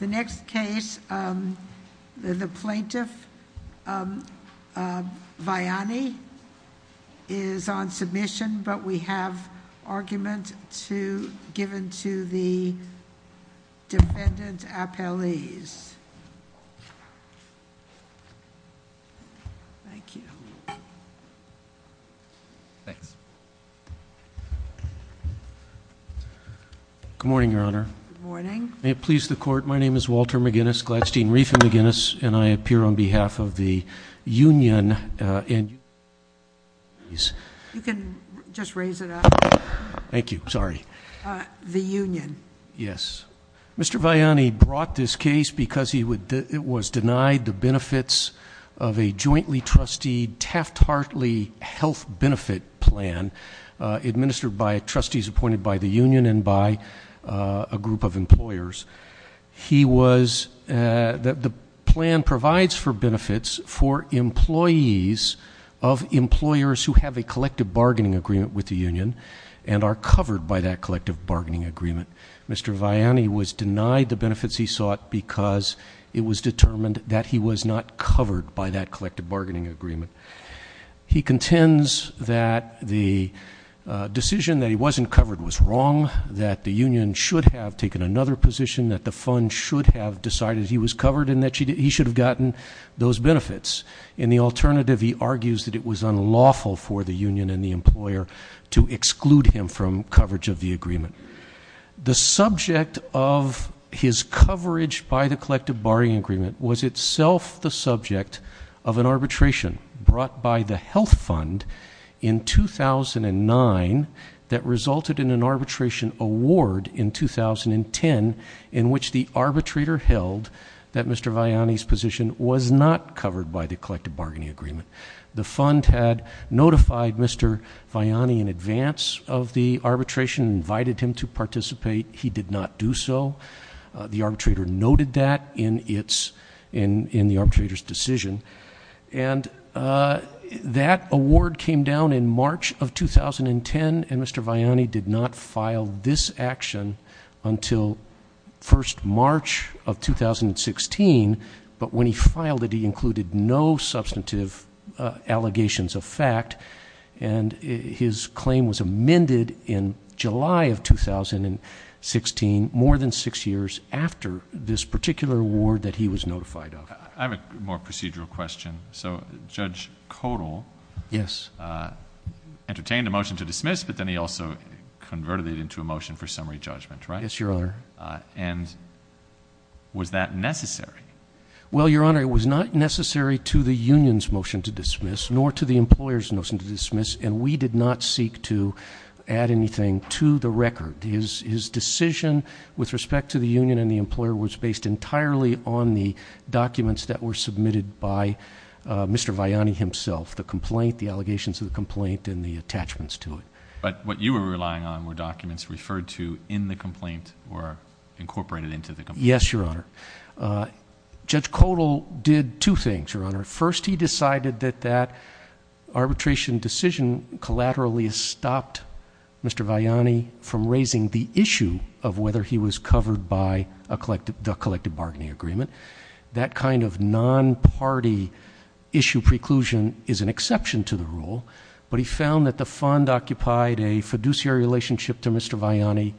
The next case, the Plaintiff Viani is on submission, but we have argument given to the defendant's appellees. Thank you. Thanks. Good morning, Your Honor. Good morning. May it please the Court. My name is Walter McGinnis, Gladstein-Riefen McGinnis, and I appear on behalf of the union. You can just raise it up. Thank you. Sorry. The union. Yes. Mr. Viani brought this case because it was denied the benefits of a jointly-trustee, a Taft-Hartley health benefit plan administered by trustees appointed by the union and by a group of employers. He was the plan provides for benefits for employees of employers who have a collective bargaining agreement with the union and are covered by that collective bargaining agreement. Mr. Viani was denied the benefits he sought because it was determined that he was not covered by that collective bargaining agreement. He contends that the decision that he wasn't covered was wrong, that the union should have taken another position, that the fund should have decided he was covered and that he should have gotten those benefits. In the alternative, he argues that it was unlawful for the union and the employer to exclude him from coverage of the agreement. The subject of his coverage by the collective bargaining agreement was itself the subject of an arbitration brought by the health fund in 2009 that resulted in an arbitration award in 2010 in which the arbitrator held that Mr. Viani's position was not covered by the collective bargaining agreement. The fund had notified Mr. Viani in advance of the arbitration, invited him to participate. He did not do so. The arbitrator noted that in the arbitrator's decision. And that award came down in March of 2010, and Mr. Viani did not file this action until 1st March of 2016. But when he filed it, he included no substantive allegations of fact, and his claim was amended in July of 2016, more than six years after this particular award that he was notified of. I have a more procedural question. So Judge Kodal. Yes. Entertained a motion to dismiss, but then he also converted it into a motion for summary judgment, right? Yes, Your Honor. And was that necessary? Well, Your Honor, it was not necessary to the union's motion to dismiss nor to the employer's motion to dismiss, and we did not seek to add anything to the record. His decision with respect to the union and the employer was based entirely on the documents that were submitted by Mr. Viani himself. The complaint, the allegations of the complaint, and the attachments to it. But what you were relying on were documents referred to in the complaint or incorporated into the complaint? Yes, Your Honor. Judge Kodal did two things, Your Honor. First, he decided that that arbitration decision collaterally stopped Mr. Viani from raising the issue of whether he was covered by the collective bargaining agreement. That kind of non-party issue preclusion is an exception to the rule, but he found that the fund occupied a fiduciary relationship to Mr. Viani,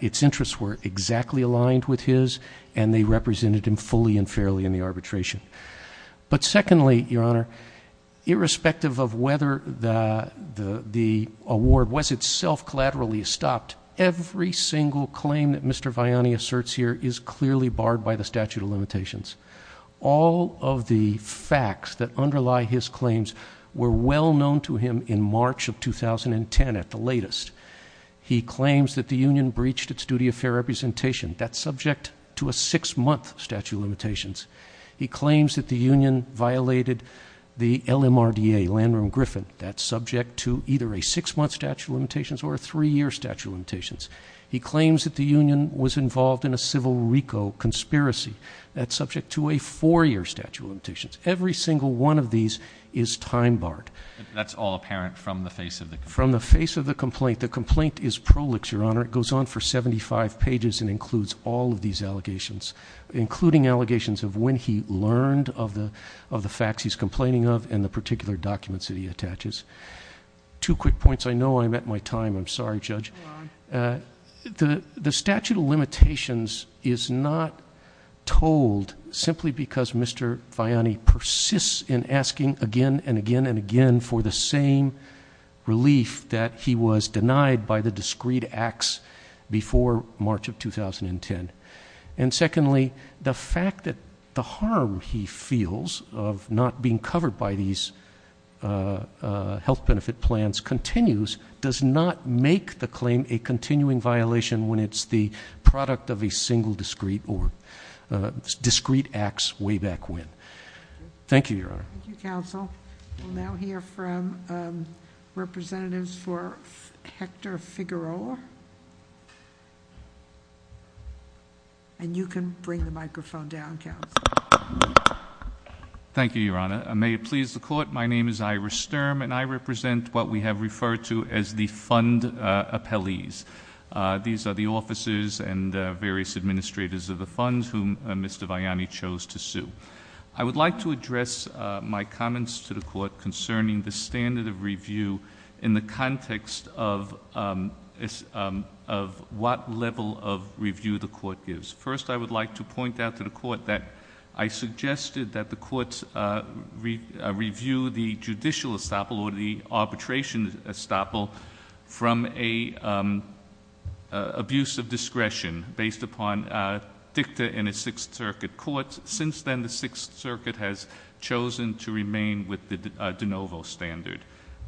its interests were exactly aligned with his, and they represented him fully and fairly in the arbitration. But secondly, Your Honor, irrespective of whether the award was itself collaterally stopped, every single claim that Mr. Viani asserts here is clearly barred by the statute of limitations. All of the facts that underlie his claims were well known to him in March of 2010 at the latest. He claims that the union breached its duty of fair representation. That's subject to a six-month statute of limitations. He claims that the union violated the LMRDA, Landrum-Griffin. That's subject to either a six-month statute of limitations or a three-year statute of limitations. He claims that the union was involved in a civil RICO conspiracy. That's subject to a four-year statute of limitations. Every single one of these is time-barred. That's all apparent from the face of the complaint? The complaint is prolix, Your Honor. It goes on for 75 pages and includes all of these allegations, including allegations of when he learned of the facts he's complaining of and the particular documents that he attaches. Two quick points. I know I'm at my time. I'm sorry, Judge. The statute of limitations is not told simply because Mr. Viani persists in asking again and again and again for the same relief that he was denied by the discreet acts before March of 2010. And secondly, the fact that the harm he feels of not being covered by these health benefit plans continues does not make the claim a continuing violation when it's the product of a single discreet or discreet acts way back when. Thank you, Your Honor. Thank you, counsel. We'll now hear from representatives for Hector Figueroa. And you can bring the microphone down, counsel. May it please the court. My name is Ira Sturm, and I represent what we have referred to as the fund appellees. These are the officers and various administrators of the funds whom Mr. Viani chose to sue. I would like to address my comments to the court concerning the standard of review in the context of what level of review the court gives. First, I would like to point out to the court that I suggested that the courts review the judicial estoppel or the arbitration estoppel from a abuse of discretion based upon dicta in a Sixth Circuit court. Since then, the Sixth Circuit has chosen to remain with the de novo standard.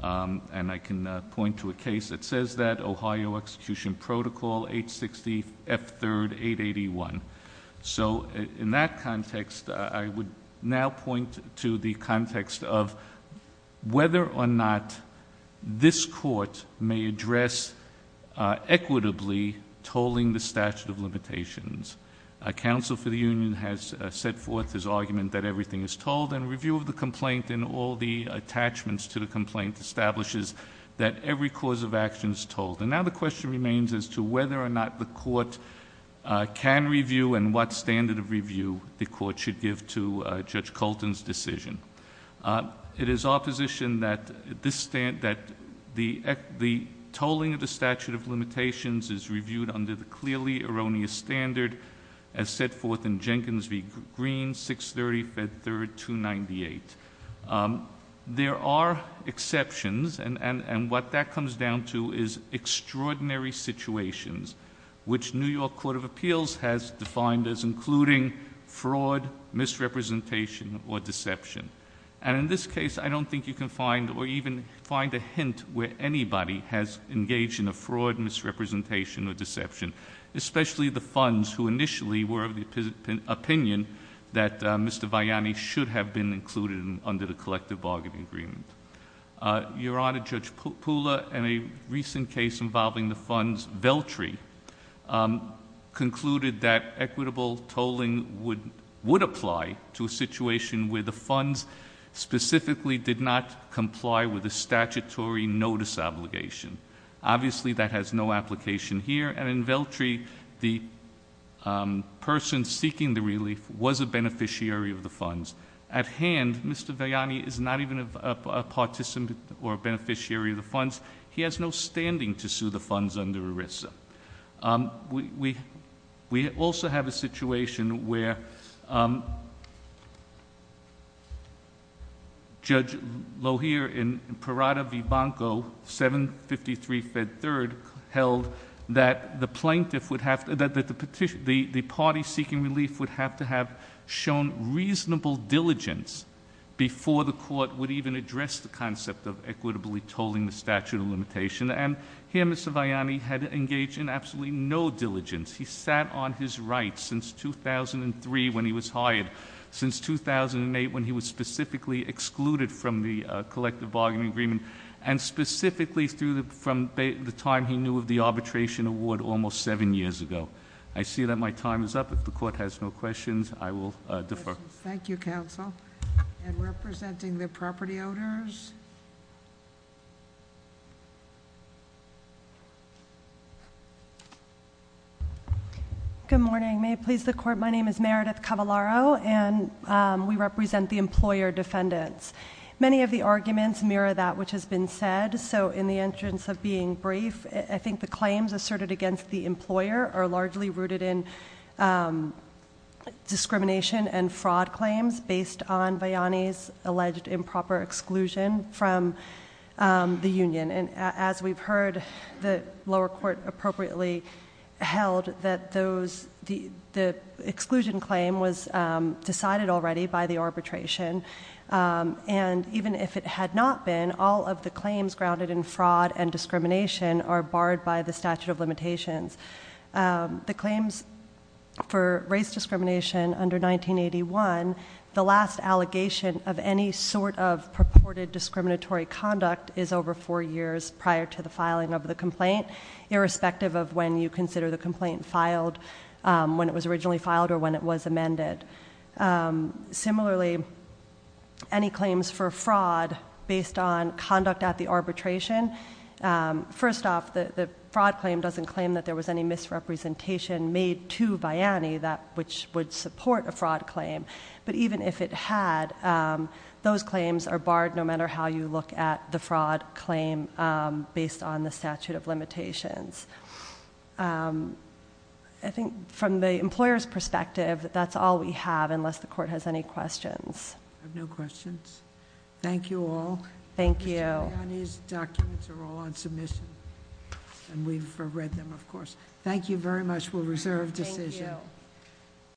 And I can point to a case that says that. So in that context, I would now point to the context of whether or not this court may address equitably tolling the statute of limitations. A counsel for the union has set forth his argument that everything is told. And review of the complaint and all the attachments to the complaint establishes that every cause of action is told. And now the question remains as to whether or not the court can review and what standard of review the court should give to Judge Colton's decision. It is opposition that the tolling of the statute of limitations is reviewed under the clearly erroneous standard as set forth in Jenkins v. Green, 630 Fed 3rd 298. There are exceptions, and what that comes down to is extraordinary situations, which New York Court of Appeals has defined as including fraud, misrepresentation, or deception. And in this case, I don't think you can find or even find a hint where anybody has engaged in a fraud, misrepresentation, or deception. Especially the funds who initially were of the opinion that Mr. Viani should have been included under the collective bargaining agreement. Your Honor, Judge Pula, in a recent case involving the funds, Veltri, concluded that equitable tolling would apply to a situation where the funds specifically did not comply with the statutory notice obligation. Obviously, that has no application here, and in Veltri, the person seeking the relief was a beneficiary of the funds. At hand, Mr. Viani is not even a participant or a beneficiary of the funds. He has no standing to sue the funds under ERISA. We also have a situation where Judge Lohier in Prerada v. Banco, 753 Fed 3rd, held that the plaintiff would have, that the party seeking relief would have to have shown reasonable diligence before the court would even address the concept of equitably tolling the statute of limitation. And here, Mr. Viani had engaged in absolutely no diligence. He sat on his right since 2003 when he was hired, since 2008 when he was specifically excluded from the collective bargaining agreement, and specifically from the time he knew of the arbitration award almost seven years ago. I see that my time is up. If the court has no questions, I will defer. Thank you, counsel. And representing the property owners. Good morning. May it please the court, my name is Meredith Cavallaro, and we represent the employer defendants. Many of the arguments mirror that which has been said, so in the interest of being brief, I think the claims asserted against the employer are largely rooted in discrimination and fraud claims based on Viani's alleged improper exclusion from the union. And as we've heard, the lower court appropriately held that those, the exclusion claim was decided already by the arbitration, and even if it had not been, all of the claims grounded in fraud and discrimination are barred by the statute of limitations. The claims for race discrimination under 1981, the last allegation of any sort of purported discriminatory conduct is over four years prior to the filing of the complaint, irrespective of when you consider the complaint filed, when it was originally filed or when it was amended. Similarly, any claims for fraud based on conduct at the arbitration, first off, the fraud claim doesn't claim that there was any misrepresentation made to Viani which would support a fraud claim, but even if it had, those claims are barred no matter how you look at the fraud claim based on the statute of limitations. I think from the employer's perspective, that's all we have, unless the court has any questions. I have no questions. Thank you all. Thank you. Mr. Viani's documents are all on submission, and we've read them, of course. Thank you very much. We'll reserve decision. Thank you.